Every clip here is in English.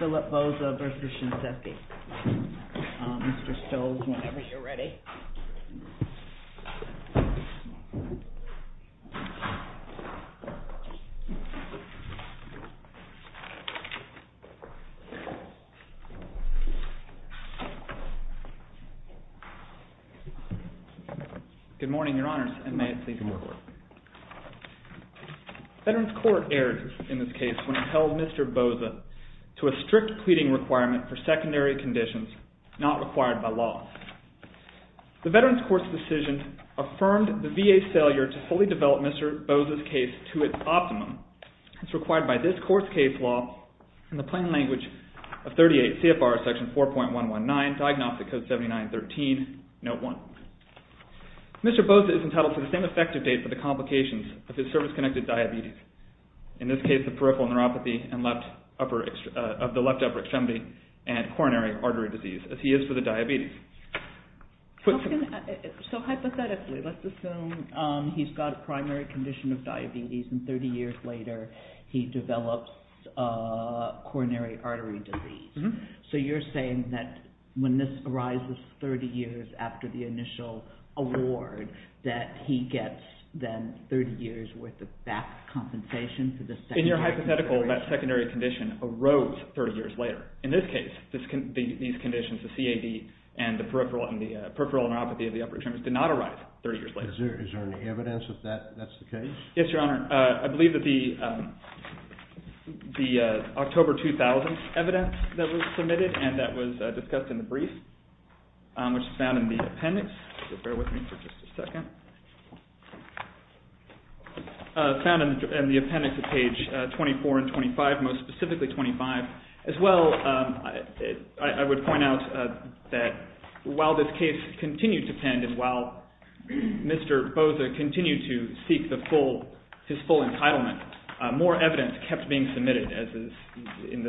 Good morning, your honors, and may it please the court. Veterans Court erred in this case when it held Mr. Boza to a strict pleading requirement for secondary conditions not required by law. The Veterans Court's decision affirmed the VA's failure to fully develop Mr. Boza's case to its optimum. It's required by this Court's case law in the plain language of 38 CFR section 4.119, diagnostic code 7913, note 1. Mr. Boza is entitled to the same effective date for the complications of his service-connected diabetes, in this case the peripheral neuropathy of the left upper extremity and coronary artery disease, as he is for the diabetes. So hypothetically, let's assume he's got a primary condition of diabetes and 30 years later he develops coronary artery disease. So you're saying that when this arises 30 years after the initial award that he gets then 30 years worth of back compensation for this secondary condition? In this case, these conditions, the CAD and the peripheral neuropathy of the upper extremities did not arise 30 years later. Is there any evidence that that's the case? Yes, your honor. I believe that the October 2000 evidence that was submitted and that was discussed in the brief, which is found in the appendix, bear with me for just a second, found in the appendix at page 24 and 25, most specifically 25. As well, I would point out that while this case continued to pend and while Mr. Boza continued to seek his full entitlement, more evidence kept being submitted in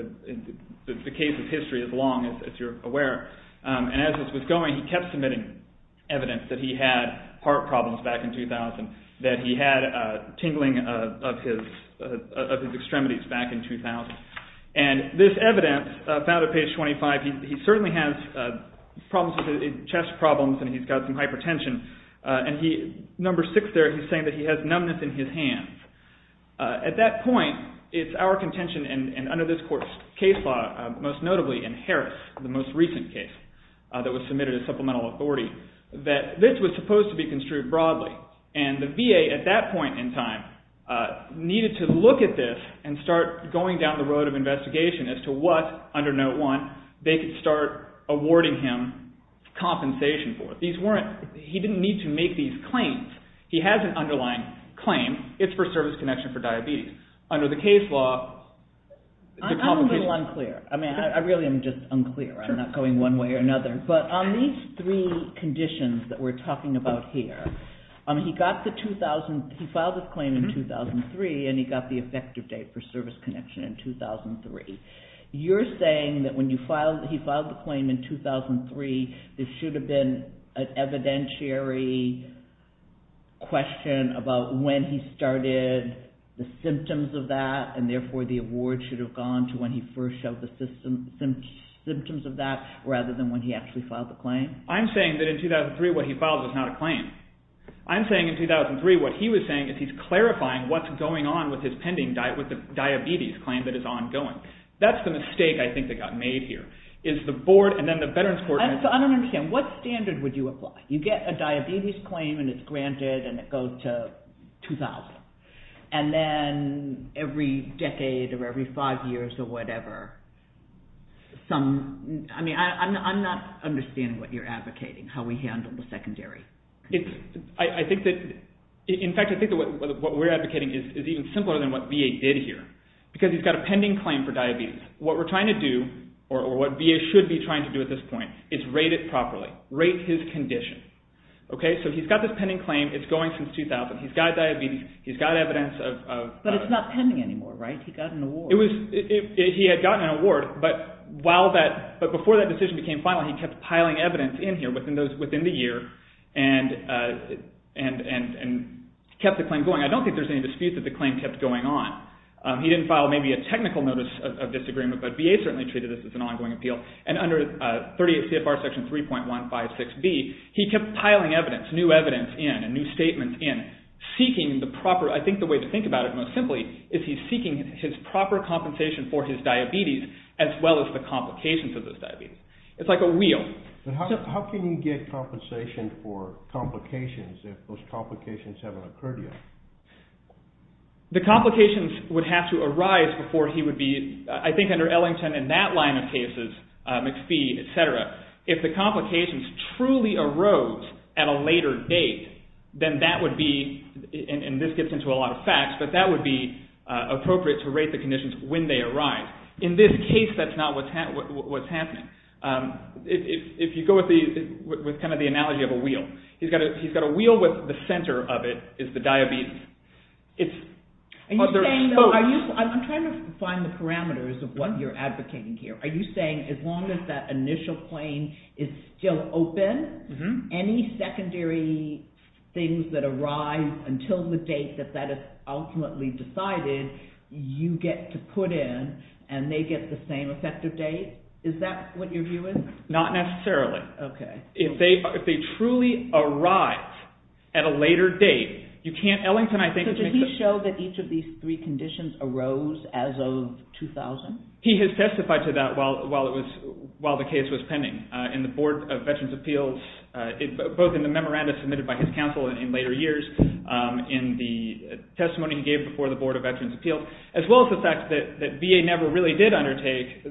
the case of history as long as you're aware. As this was going, he kept submitting evidence that he had heart problems back in 2000, that he had tingling of his extremities back in 2000. This evidence found at page 25, he certainly has chest problems and he's got some hypertension. Number six there, he's saying that he has numbness in his hands. At that point, it's our contention and under this court's case law, most notably in Harris, the most recent case that was submitted as supplemental authority, that this was supposed to be construed broadly and the VA at that point in time needed to look at this and start going down the road of investigation as to what, under note one, they could start awarding him compensation for. He didn't need to make these claims. He has an underlying claim. It's for service connection for diabetes. Under the case law, the compensation... I'm a little unclear. I really am just unclear. I'm not going one way or another. On these three conditions that we're talking about here, he filed his claim in 2003 and he got the effective date for service connection in 2003. You're saying that when he filed the claim in 2003, there should have been an evidentiary question about when he started, the symptoms of that and therefore the award should have gone to when he first showed the symptoms of that rather than when he actually filed the claim? I'm saying that in 2003, what he filed was not a claim. I'm saying in 2003, what he was saying is he's clarifying what's going on with his pending diabetes claim that is ongoing. That's the mistake I think that got made here. I don't understand. What standard would you apply? You get a diabetes claim and it's granted and it goes to 2000. Then every decade or every five years or whatever... I'm not understanding what you're advocating, how we handle the secondary. In fact, I think what we're advocating is even simpler than what VA did here because he's got a pending claim for diabetes. What we're trying to do or what VA should be trying to do at this point is rate it properly, rate his condition. He's got this pending claim. It's going since 2000. He's got diabetes. He's got evidence of... But it's not pending anymore, right? He got an award. He had gotten an award, but before that decision became final, he kept piling evidence in here within the year and kept the claim going. I don't think there's any dispute that the claim kept going on. He didn't file maybe a technical notice of disagreement, but VA certainly treated this as an ongoing appeal. Under 38 CFR Section 3.156B, he kept piling evidence, new evidence in and new statements in, seeking the proper... compensation for his diabetes as well as the complications of his diabetes. It's like a wheel. How can you get compensation for complications if those complications haven't occurred yet? The complications would have to arise before he would be... I think under Ellington and that line of cases, McPhee, etc., if the complications truly arose at a later date, then that would be... In this case, that's not what's happening. If you go with the analogy of a wheel, he's got a wheel with the center of it is the diabetes. I'm trying to find the parameters of what you're advocating here. Are you saying as long as that initial claim is still open, any secondary things that arise until the date that that is ultimately decided, you get to put in and they get the same effective date? Is that what you're viewing? Not necessarily. If they truly arise at a later date, you can't... Does he show that each of these three conditions arose as of 2000? He has testified to that while the case was pending in the Board of Veterans' Appeals, both in the memoranda submitted by his counsel in later years, in the testimony he gave before the Board of Veterans' Appeals, as well as the fact that VA never really did undertake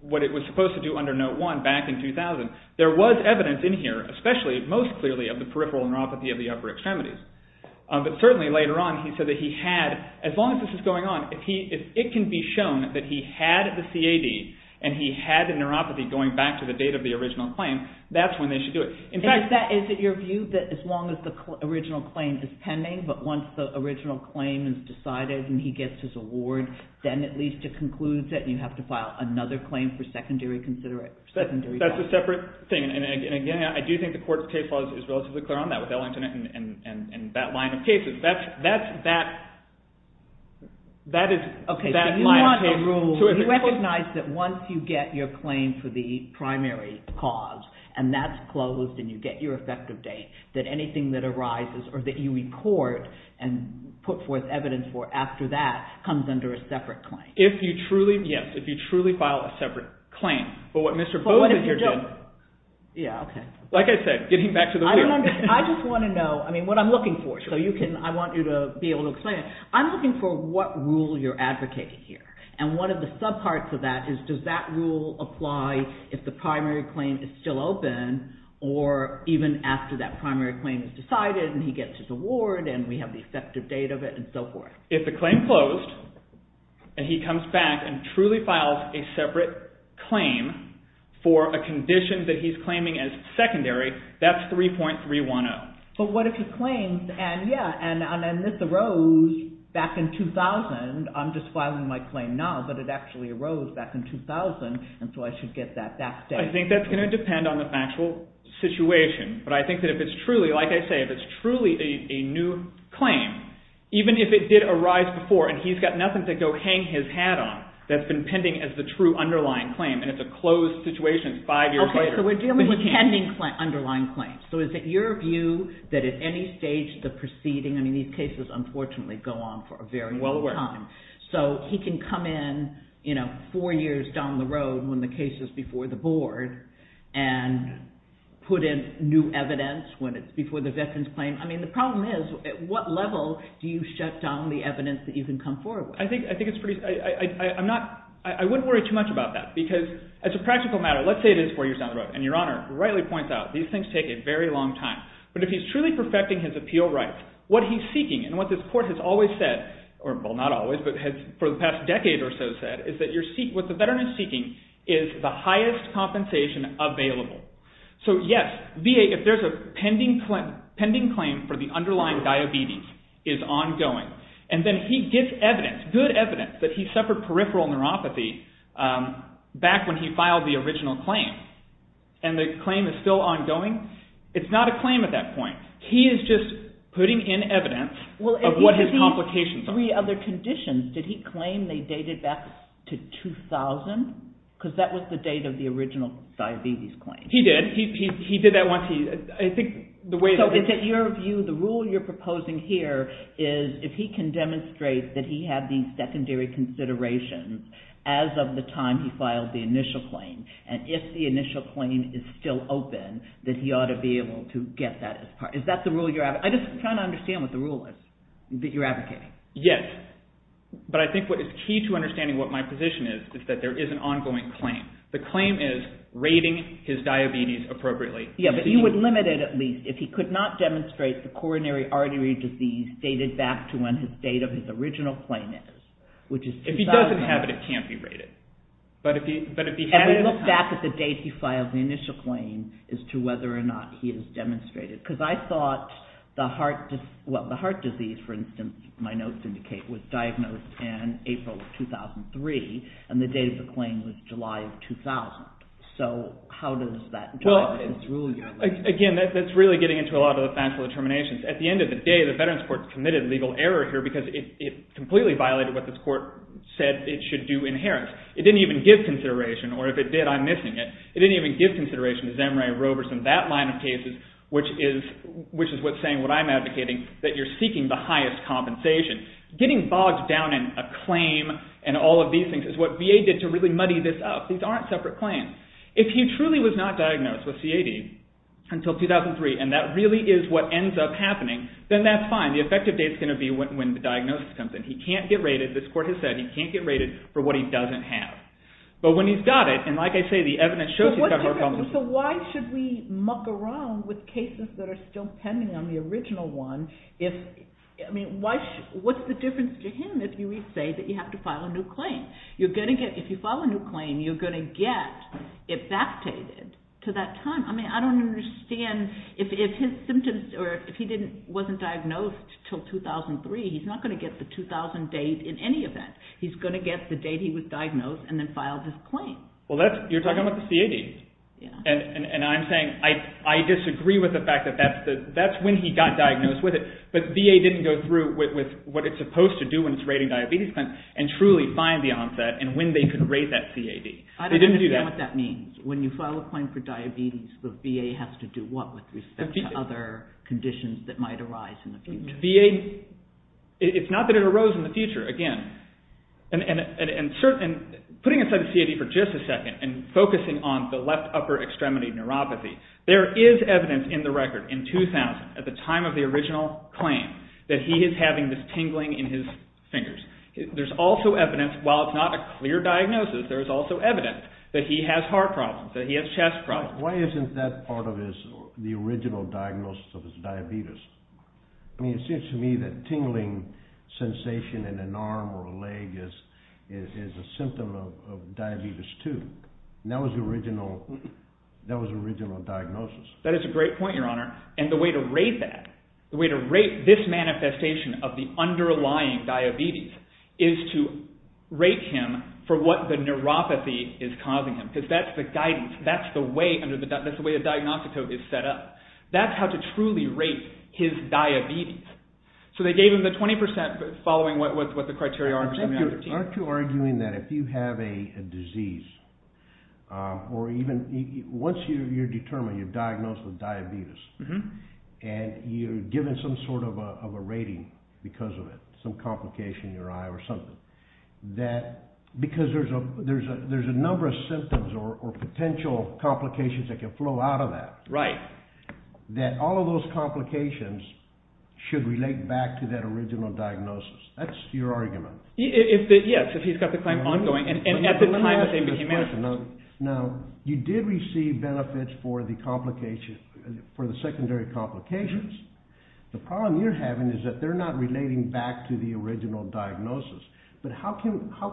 what it was supposed to do under Note 1 back in 2000. There was evidence in here, especially, most clearly, of the peripheral neuropathy of the upper extremities. Certainly, later on, he said that he had, as long as this is going on, if it can be shown that he had the CAD and he had the neuropathy going back to the date of the original claim, that's when they should do it. Is it your view that as long as the original claim is pending, but once the original claim is decided and he gets his award, then at least it concludes that you have to file another claim for secondary consideration? That's a separate thing, and again, I do think the court's case law is relatively clear on that with Ellington and that line of cases. That is that line of cases. Okay, so you want a rule. You recognize that once you get your claim for the primary cause and that's closed and you get your effective date, that anything that arises or that you record and put forth evidence for after that comes under a separate claim. If you truly, yes, if you truly file a separate claim, but what Mr. Bowman here did, like I said, getting back to the rule. I just want to know, I mean, what I'm looking for, so I want you to be able to explain it. I'm looking for what rule you're advocating here, and one of the subparts of that is does that rule apply if the primary claim is still open or even after that primary claim is decided and he gets his award and we have the effective date of it and so forth? If the claim closed and he comes back and truly files a separate claim for a condition that he's claiming as secondary, that's 3.310. But what if he claims, and yeah, and this arose back in 2000. I'm just filing my claim now, but it actually arose back in 2000, and so I should get that date. I think that's going to depend on the actual situation, but I think that if it's truly, like I say, if it's truly a new claim, even if it did arise before and he's got nothing to go hang his hat on that's been pending as the true underlying claim and it's a closed situation, it's five years later. Okay, so we're dealing with pending underlying claims. So is it your view that at any stage the proceeding, I mean, these cases unfortunately go on for a very long time. Well aware. So he can come in four years down the road when the case is before the board and put in new evidence when it's before the veteran's claim. I mean, the problem is at what level do you shut down the evidence that you can come forward with? I think it's pretty, I'm not, I wouldn't worry too much about that because as a practical matter, let's say it is four years down the road, and your Honor rightly points out these things take a very long time, but if he's truly perfecting his appeal rights, what he's seeking and what this court has always said, well not always, but has for the past decade or so said, is that what the veteran is seeking is the highest compensation available. So yes, VA, if there's a pending claim for the underlying diabetes is ongoing, and then he gives evidence, good evidence, that he suffered peripheral neuropathy back when he filed the original claim, and the claim is still ongoing, it's not a claim at that point. He is just putting in evidence of what his complications are. Well if he's seen three other conditions, did he claim they dated back to 2000? Because that was the date of the original diabetes claim. He did. He did that once. So is it your view, the rule you're proposing here is if he can demonstrate that he had these secondary considerations as of the time he filed the initial claim, and if the initial claim is still open, that he ought to be able to get that as part. Is that the rule you're advocating? I'm just trying to understand what the rule is that you're advocating. Yes, but I think what is key to understanding what my position is, is that there is an ongoing claim. The claim is rating his diabetes appropriately. Yeah, but you would limit it at least if he could not demonstrate the coronary artery disease dated back to when his date of his original claim is, which is 2000. If he doesn't have it, it can't be rated. And we look back at the date he filed the initial claim as to whether or not he has demonstrated. Because I thought the heart disease, for instance, my notes indicate, was diagnosed in April of 2003, and the date of the claim was July of 2000. So how does that drive this rule? Again, that's really getting into a lot of the financial determinations. At the end of the day, the Veterans Court committed legal error here because it completely violated what this court said it should do in here. It didn't even give consideration, or if it did, I'm missing it. It didn't even give consideration to Zemre, Roberson, that line of cases, which is what I'm advocating, that you're seeking the highest compensation. Getting bogged down in a claim and all of these things is what VA did to really muddy this up. These aren't separate claims. If he truly was not diagnosed with CAD until 2003, and that really is what ends up happening, then that's fine. The effective date is going to be when the diagnosis comes in. What's the difference to him if you say that you have to file a new claim? If you file a new claim, you're going to get it baptized to that time. I don't understand. If he wasn't diagnosed until 2003, he's not going to get the 2000 date in any event. He's going to get the date he was diagnosed and then file this claim. You're talking about the CAD. I disagree with the fact that that's when he got diagnosed with it, but VA didn't go through with what it's supposed to do when it's rating diabetes claims and truly find the onset and when they could rate that CAD. I don't understand what that means. When you file a claim for diabetes, the VA has to do what with respect to other conditions that might arise in the future? It's not that it arose in the future. Putting aside the CAD for just a second and focusing on the left upper extremity neuropathy, there is evidence in the record in 2000 at the time of the original claim that he is having this tingling in his fingers. There's also evidence, while it's not a clear diagnosis, there's also evidence that he has heart problems, that he has chest problems. Why isn't that part of the original diagnosis of his diabetes? It seems to me that tingling sensation in an arm or a leg is a symptom of diabetes too. That was the original diagnosis. That is a great point, Your Honor, and the way to rate that, the way to rate this manifestation of the underlying diabetes, is to rate him for what the neuropathy is causing him. That's the way a diagnostic code is set up. That's how to truly rate his diabetes. Aren't you arguing that if you have a disease, or even once you're determined, you're diagnosed with diabetes, and you're given some sort of a rating because of it, some complication in your eye or something, that because there's a number of symptoms or potential complications that can flow out of that, that all of those complications should relate back to that original diagnosis. That's your argument. You did receive benefits for the secondary complications. The problem you're having is that they're not relating back to the original diagnosis. How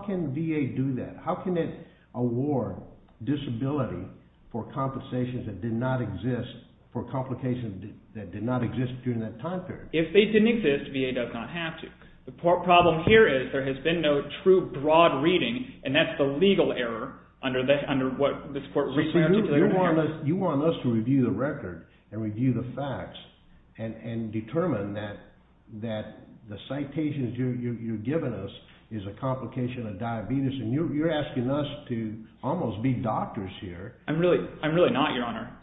can VA do that? How can it award disability for complications that did not exist during that time period? If they didn't exist, VA does not have to. The problem here is there has been no true broad reading, and that's the legal error under what this Court recently articulated. You want us to review the record and review the facts and determine that the citations you've given us is a complication of diabetes, and you're asking us to almost be doctors here. I'm really not, Your Honor.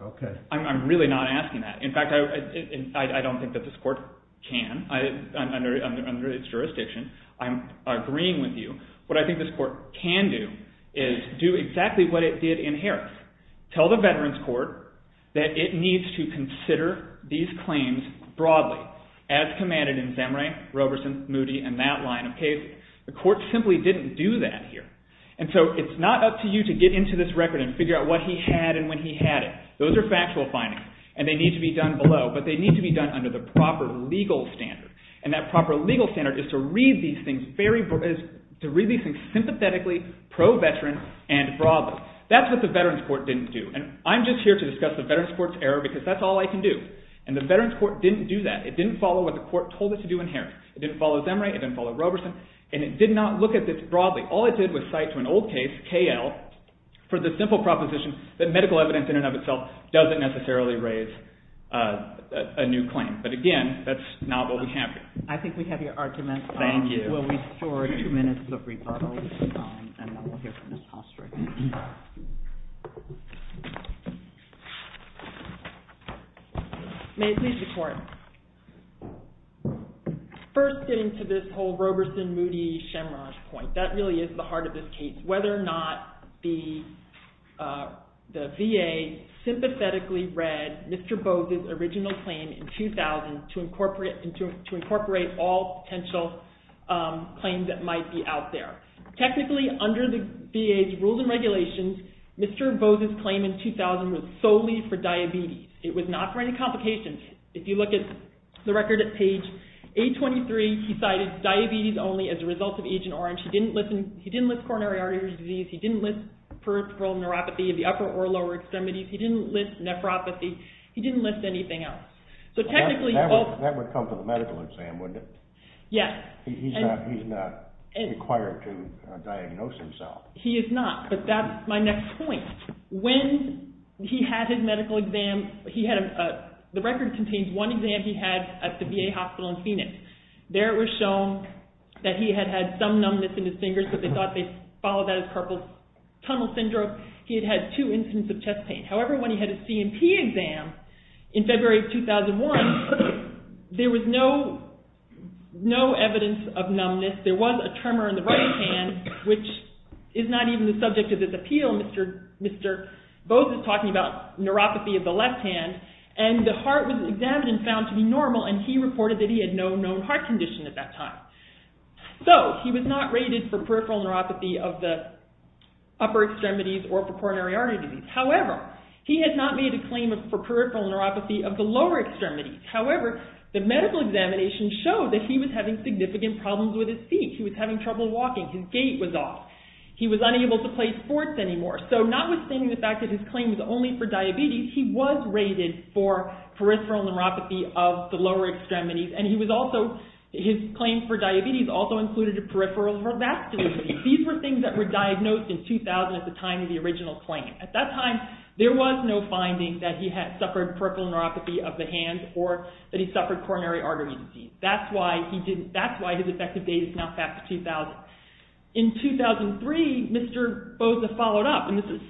I'm really not asking that. In fact, I don't think that this Court can. Under its jurisdiction, I'm agreeing with you. What I think this Court can do is do exactly what it did in Harris. Tell the Veterans Court that it needs to consider these claims broadly, as commanded in Zemre, Roberson, Moody, and that line of cases. The Court simply didn't do that here, and so it's not up to you to get into this record and figure out what he had and when he had it. Those are factual findings, and they need to be done below, but they need to be done under the proper legal standard, and that proper legal standard is to read these things sympathetically, pro-veterans, and broadly. That's what the Veterans Court didn't do, and I'm just here to discuss the Veterans Court's error because that's all I can do. The Veterans Court didn't do that. It didn't follow what the Court told it to do in Harris. It didn't follow Zemre. It didn't follow Roberson, and it did not look at this broadly. All it did was cite to an old case, KL, for the simple proposition that medical evidence in and of itself doesn't necessarily raise a new claim. But again, that's not what we have here. Thank you. May it please the Court. First, getting to this whole Roberson, Moody, Zemre point, that really is the heart of this case. Whether or not the VA sympathetically read Mr. Bogue's original claim in 2000 to incorporate all potential claims that might be out there. Technically, under the VA's rules and regulations, Mr. Bogue's claim in 2000 was solely for diabetes. It was not for any complications. If you look at the record at page 823, he cited diabetes only as a result of Agent Orange. He didn't list coronary artery disease. He didn't list peripheral neuropathy of the upper or lower extremities. He didn't list nephropathy. He didn't list anything else. That would come to the medical exam, wouldn't it? He's not required to diagnose himself. He is not, but that's my next point. The record contains one exam he had at the VA hospital in Phoenix. There it was shown that he had had some numbness in his fingers, but they thought they followed that as carpal tunnel syndrome. He had had two incidents of chest pain. However, when he had his C&P exam in February 2001, there was no evidence of numbness. There was a tremor in the right hand, which is not even the subject of this appeal. Mr. Bogue is talking about neuropathy of the left hand. The heart was examined and found to be normal, and he reported that he had no known heart condition at that time. He was not rated for peripheral neuropathy of the upper extremities or for coronary artery disease. However, he had not made a claim for peripheral neuropathy of the lower extremities. However, the medical examination showed that he was having significant problems with his feet. He was having trouble walking. His gait was off. He was unable to play sports anymore. Notwithstanding the fact that his claim was only for diabetes, he was rated for peripheral neuropathy of the lower extremities. His claim for diabetes also included a peripheral vascular disease. These were things that were diagnosed in 2000 at the time of the original claim. At that time, there was no finding that he had suffered peripheral neuropathy of the hands or that he suffered coronary artery disease. That's why his effective date is now back to 2000. In 2003, Mr. Bogue followed up, and this is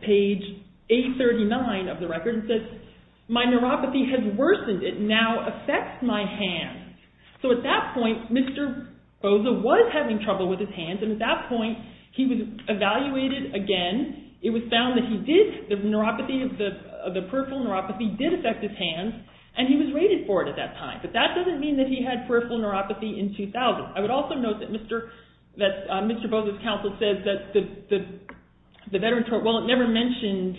page 839 of the record. It says, my neuropathy has worsened. It now affects my hands. At that point, Mr. Boza was having trouble with his hands. At that point, he was evaluated again. It was found that the peripheral neuropathy did affect his hands, and he was rated for it at that time. That doesn't mean that he had peripheral neuropathy in 2000. I would also note that Mr. Bogue's counsel says that the Veterans Court never mentioned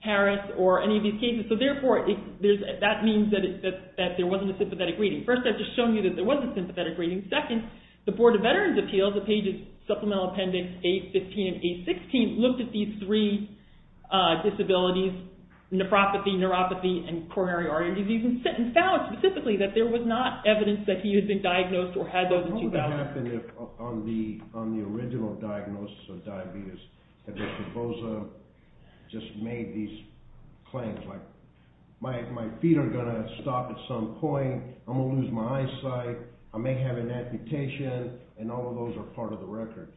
Harris or any of these cases. Therefore, that means that there wasn't a sympathetic reading. First, I've just shown you that there was a sympathetic reading. Second, the Board of Veterans' Appeals, pages supplemental appendix 815 and 816, looked at these three disabilities, nephropathy, neuropathy, and coronary artery disease, and found specifically that there was not evidence that he had been diagnosed or had those in 2000. What would happen if, on the original diagnosis of diabetes, had Mr. Boza just made these claims like, my feet are going to stop at some point, I'm going to lose my eyesight, I may have an amputation, and all of those are part of the record.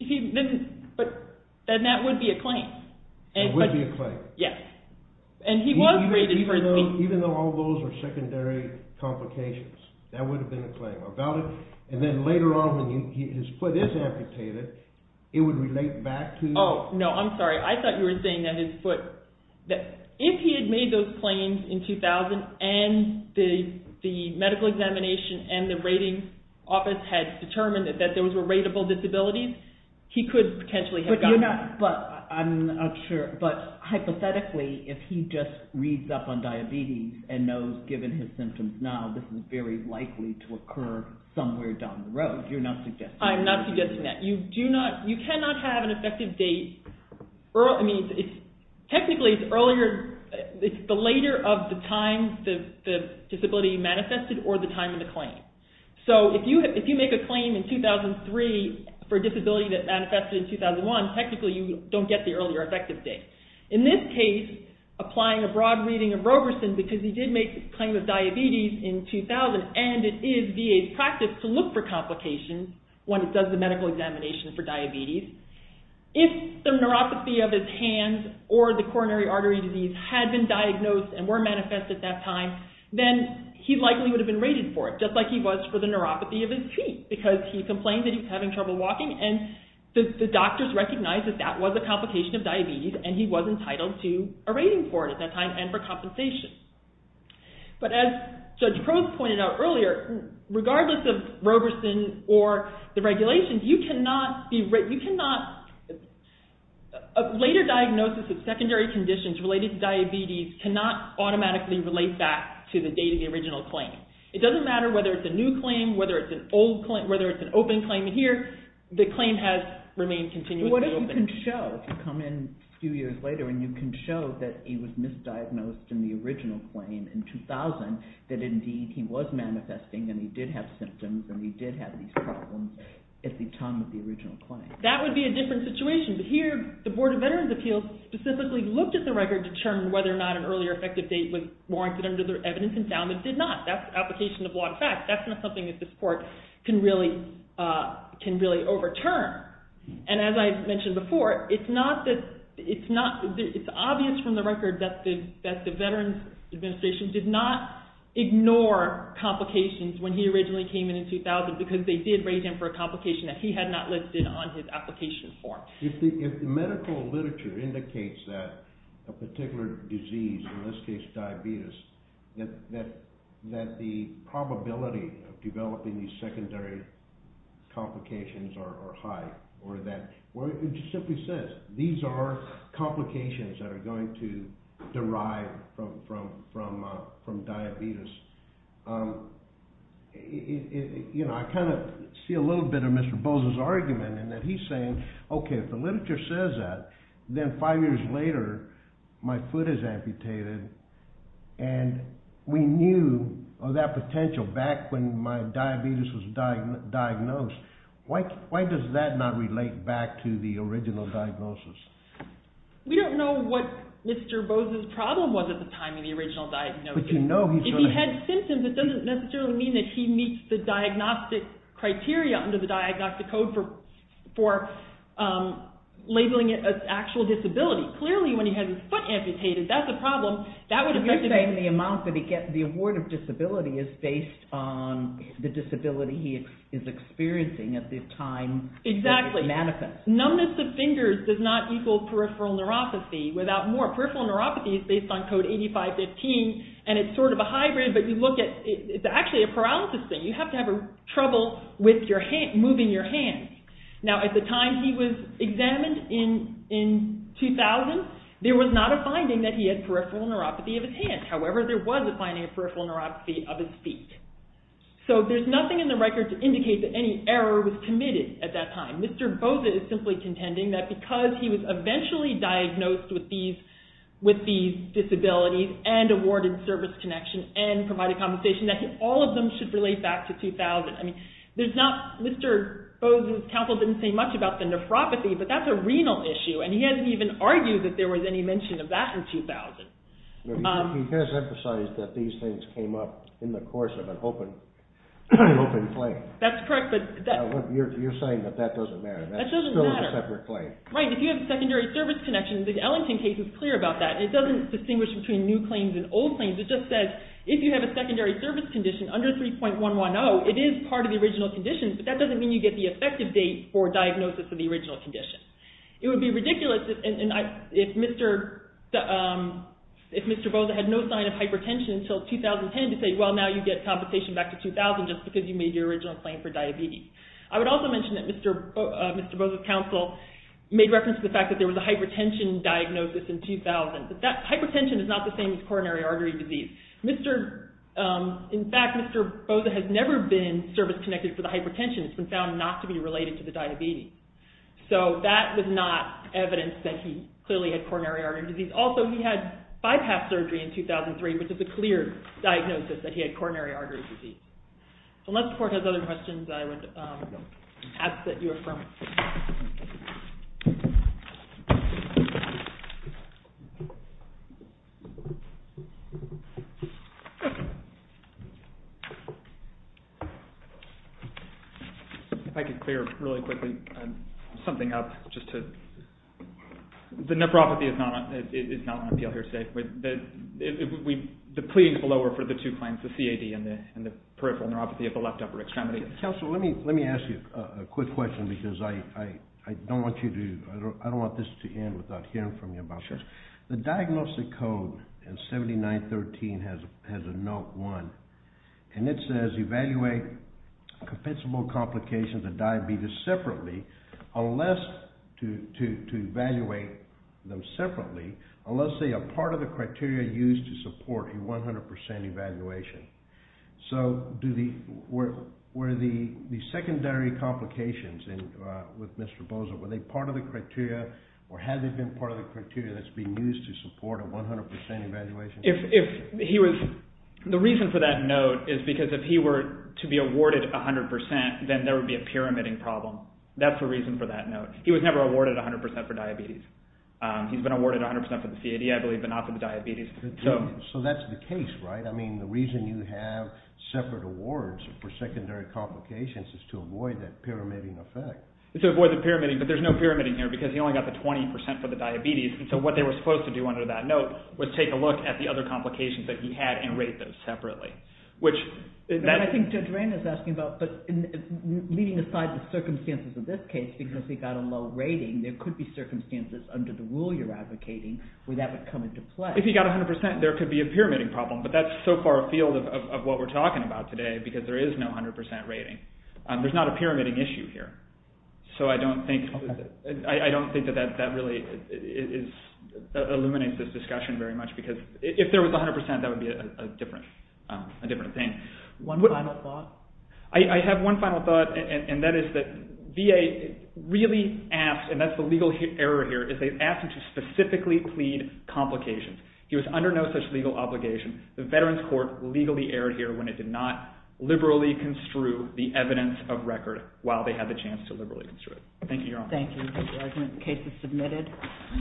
Then that would be a claim. It would be a claim. Yes. Even though all of those are secondary complications. That would have been a claim. And then later on, when his foot is amputated, it would relate back to... Oh, no, I'm sorry. I thought you were saying that his foot... If he had made those claims in 2000, and the medical examination and the rating office had determined that there were rateable disabilities, he could potentially have gotten... I'm not sure, but hypothetically, if he just reads up on diabetes and knows, given his symptoms now, this is very likely to occur somewhere down the road. You're not suggesting... I'm not suggesting that. You cannot have an effective date... Technically, it's the later of the times the disability manifested or the time of the claim. If you make a claim in 2003 for a disability that manifested in 2001, technically, you don't get the earlier effective date. In this case, applying a broad reading of Roberson, because he did make a claim of diabetes in 2000, and it is VA's practice to look for complications when it does the medical examination for diabetes. If the neuropathy of his hands or the coronary artery disease had been diagnosed and were manifest at that time, then he likely would have been rated for it, just like he was for the neuropathy of his feet, because he complained that he was having trouble walking, and the doctors recognized that that was a complication of diabetes, and he was entitled to a rating for it at that time and for compensation. But as Judge Probst pointed out earlier, regardless of Roberson or the regulations, a later diagnosis of secondary conditions related to diabetes cannot automatically relate back to the date of the original claim. It doesn't matter whether it's a new claim, whether it's an open claim. Here, the claim has remained continuously open. What if you can show, if you come in a few years later, and you can show that he was misdiagnosed in the original claim in 2000, that indeed he was manifesting, and he did have symptoms, and he did have these problems at the time of the original claim? That would be a different situation. But here, the Board of Veterans' Appeals specifically looked at the record to determine whether or not an earlier effective date was warranted under the evidence and found it did not. That's application of law to fact. That's not something that this Court can really overturn. And as I mentioned before, it's obvious from the record that the Veterans' Administration did not ignore complications when he originally came in in 2000 because they did raise him for a complication that he had not listed on his application form. If medical literature indicates that a particular disease, in this case diabetes, that the probability of developing these secondary complications are high, or that it just simply says these are complications that are going to derive from diabetes, I kind of see a little bit of Mr. Boza's argument in that he's saying, okay, if the literature says that, then five years later my foot is amputated, and we knew of that potential back when my diabetes was diagnosed. Why does that not relate back to the original diagnosis? We don't know what Mr. Boza's problem was at the time of the original diagnosis. If he had symptoms, that doesn't necessarily mean that he meets the diagnostic criteria under the diagnostic code for labeling it as actual disability. Clearly when he had his foot amputated, that's a problem. You're saying the award of disability is based on the disability he is experiencing at the time that it manifests. Exactly. Numbness of fingers does not equal peripheral neuropathy. Peripheral neuropathy is based on Code 8515, and it's sort of a hybrid, but it's actually a paralysis thing. You have to have trouble with moving your hands. Now at the time he was examined in 2000, there was not a finding that he had peripheral neuropathy of his hands. However, there was a finding of peripheral neuropathy of his feet. So there's nothing in the record to indicate that any error was committed at that time. Mr. Boza is simply contending that because he was eventually diagnosed with these disabilities and awarded service connection and provided compensation, that all of them should relate back to 2000. Mr. Boza's counsel didn't say much about the neuropathy, but that's a renal issue, and he hasn't even argued that there was any mention of that in 2000. He has emphasized that these things came up in the course of an open claim. That's correct, but... You're saying that that doesn't matter. That doesn't matter. That's still a separate claim. Right. If you have a secondary service connection, the Ellington case is clear about that. It doesn't distinguish between new claims and old claims. It just says if you have a secondary service condition under 3.110, it is part of the original condition, but that doesn't mean you get the effective date for diagnosis of the original condition. It would be ridiculous if Mr. Boza had no sign of hypertension until 2010 to say, well, now you get compensation back to 2000 just because you made your original claim for diabetes. I would also mention that Mr. Boza's counsel made reference to the fact that there was a hypertension diagnosis in 2000. That hypertension is not the same as coronary artery disease. In fact, Mr. Boza has never been service-connected for the hypertension. It's been found not to be related to the diabetes. So that was not evidence that he clearly had coronary artery disease. Also, he had bypass surgery in 2003, which is a clear diagnosis that he had coronary artery disease. Unless the court has other questions, I would ask that you affirm. If I could clear really quickly something up just to – the nephropathy is not on appeal here today. The plea is lower for the two claims, the CAD and the peripheral nephropathy of the left upper extremity. Counsel, let me ask you a quick question because I don't want this to end without hearing from you about this. The Diagnostic Code in 7913 has a Note 1, and it says, evaluate compensable complications of diabetes separately unless – to evaluate them separately unless they are part of the criteria used to support a 100% evaluation. So were the secondary complications with Mr. Boza, were they part of the criteria or had they been part of the criteria that's been used to support a 100% evaluation? The reason for that note is because if he were to be awarded 100%, then there would be a pyramiding problem. That's the reason for that note. He was never awarded 100% for diabetes. He's been awarded 100% for the CAD, I believe, but not for the diabetes. So that's the case, right? I mean, the reason you have separate awards for secondary complications is to avoid that pyramiding effect. It's to avoid the pyramiding, but there's no pyramiding here because he only got the 20% for the diabetes. So what they were supposed to do under that note was take a look at the other complications that he had and rate those separately, which – I think Judge Rand is asking about – but leaving aside the circumstances of this case, because he got a low rating, there could be circumstances under the rule you're advocating where that would come into play. If he got 100%, there could be a pyramiding problem, but that's so far afield of what we're talking about today because there is no 100% rating. There's not a pyramiding issue here, so I don't think that that really illuminates this discussion very much because if there was 100%, that would be a different thing. One final thought? I have one final thought, and that is that VA really asked – and that's the legal error here – is they asked him to specifically plead complications. He was under no such legal obligation. The Veterans Court legally erred here when it did not liberally construe the evidence of record while they had the chance to liberally construe it. Thank you, Your Honor. Thank you. The case is submitted.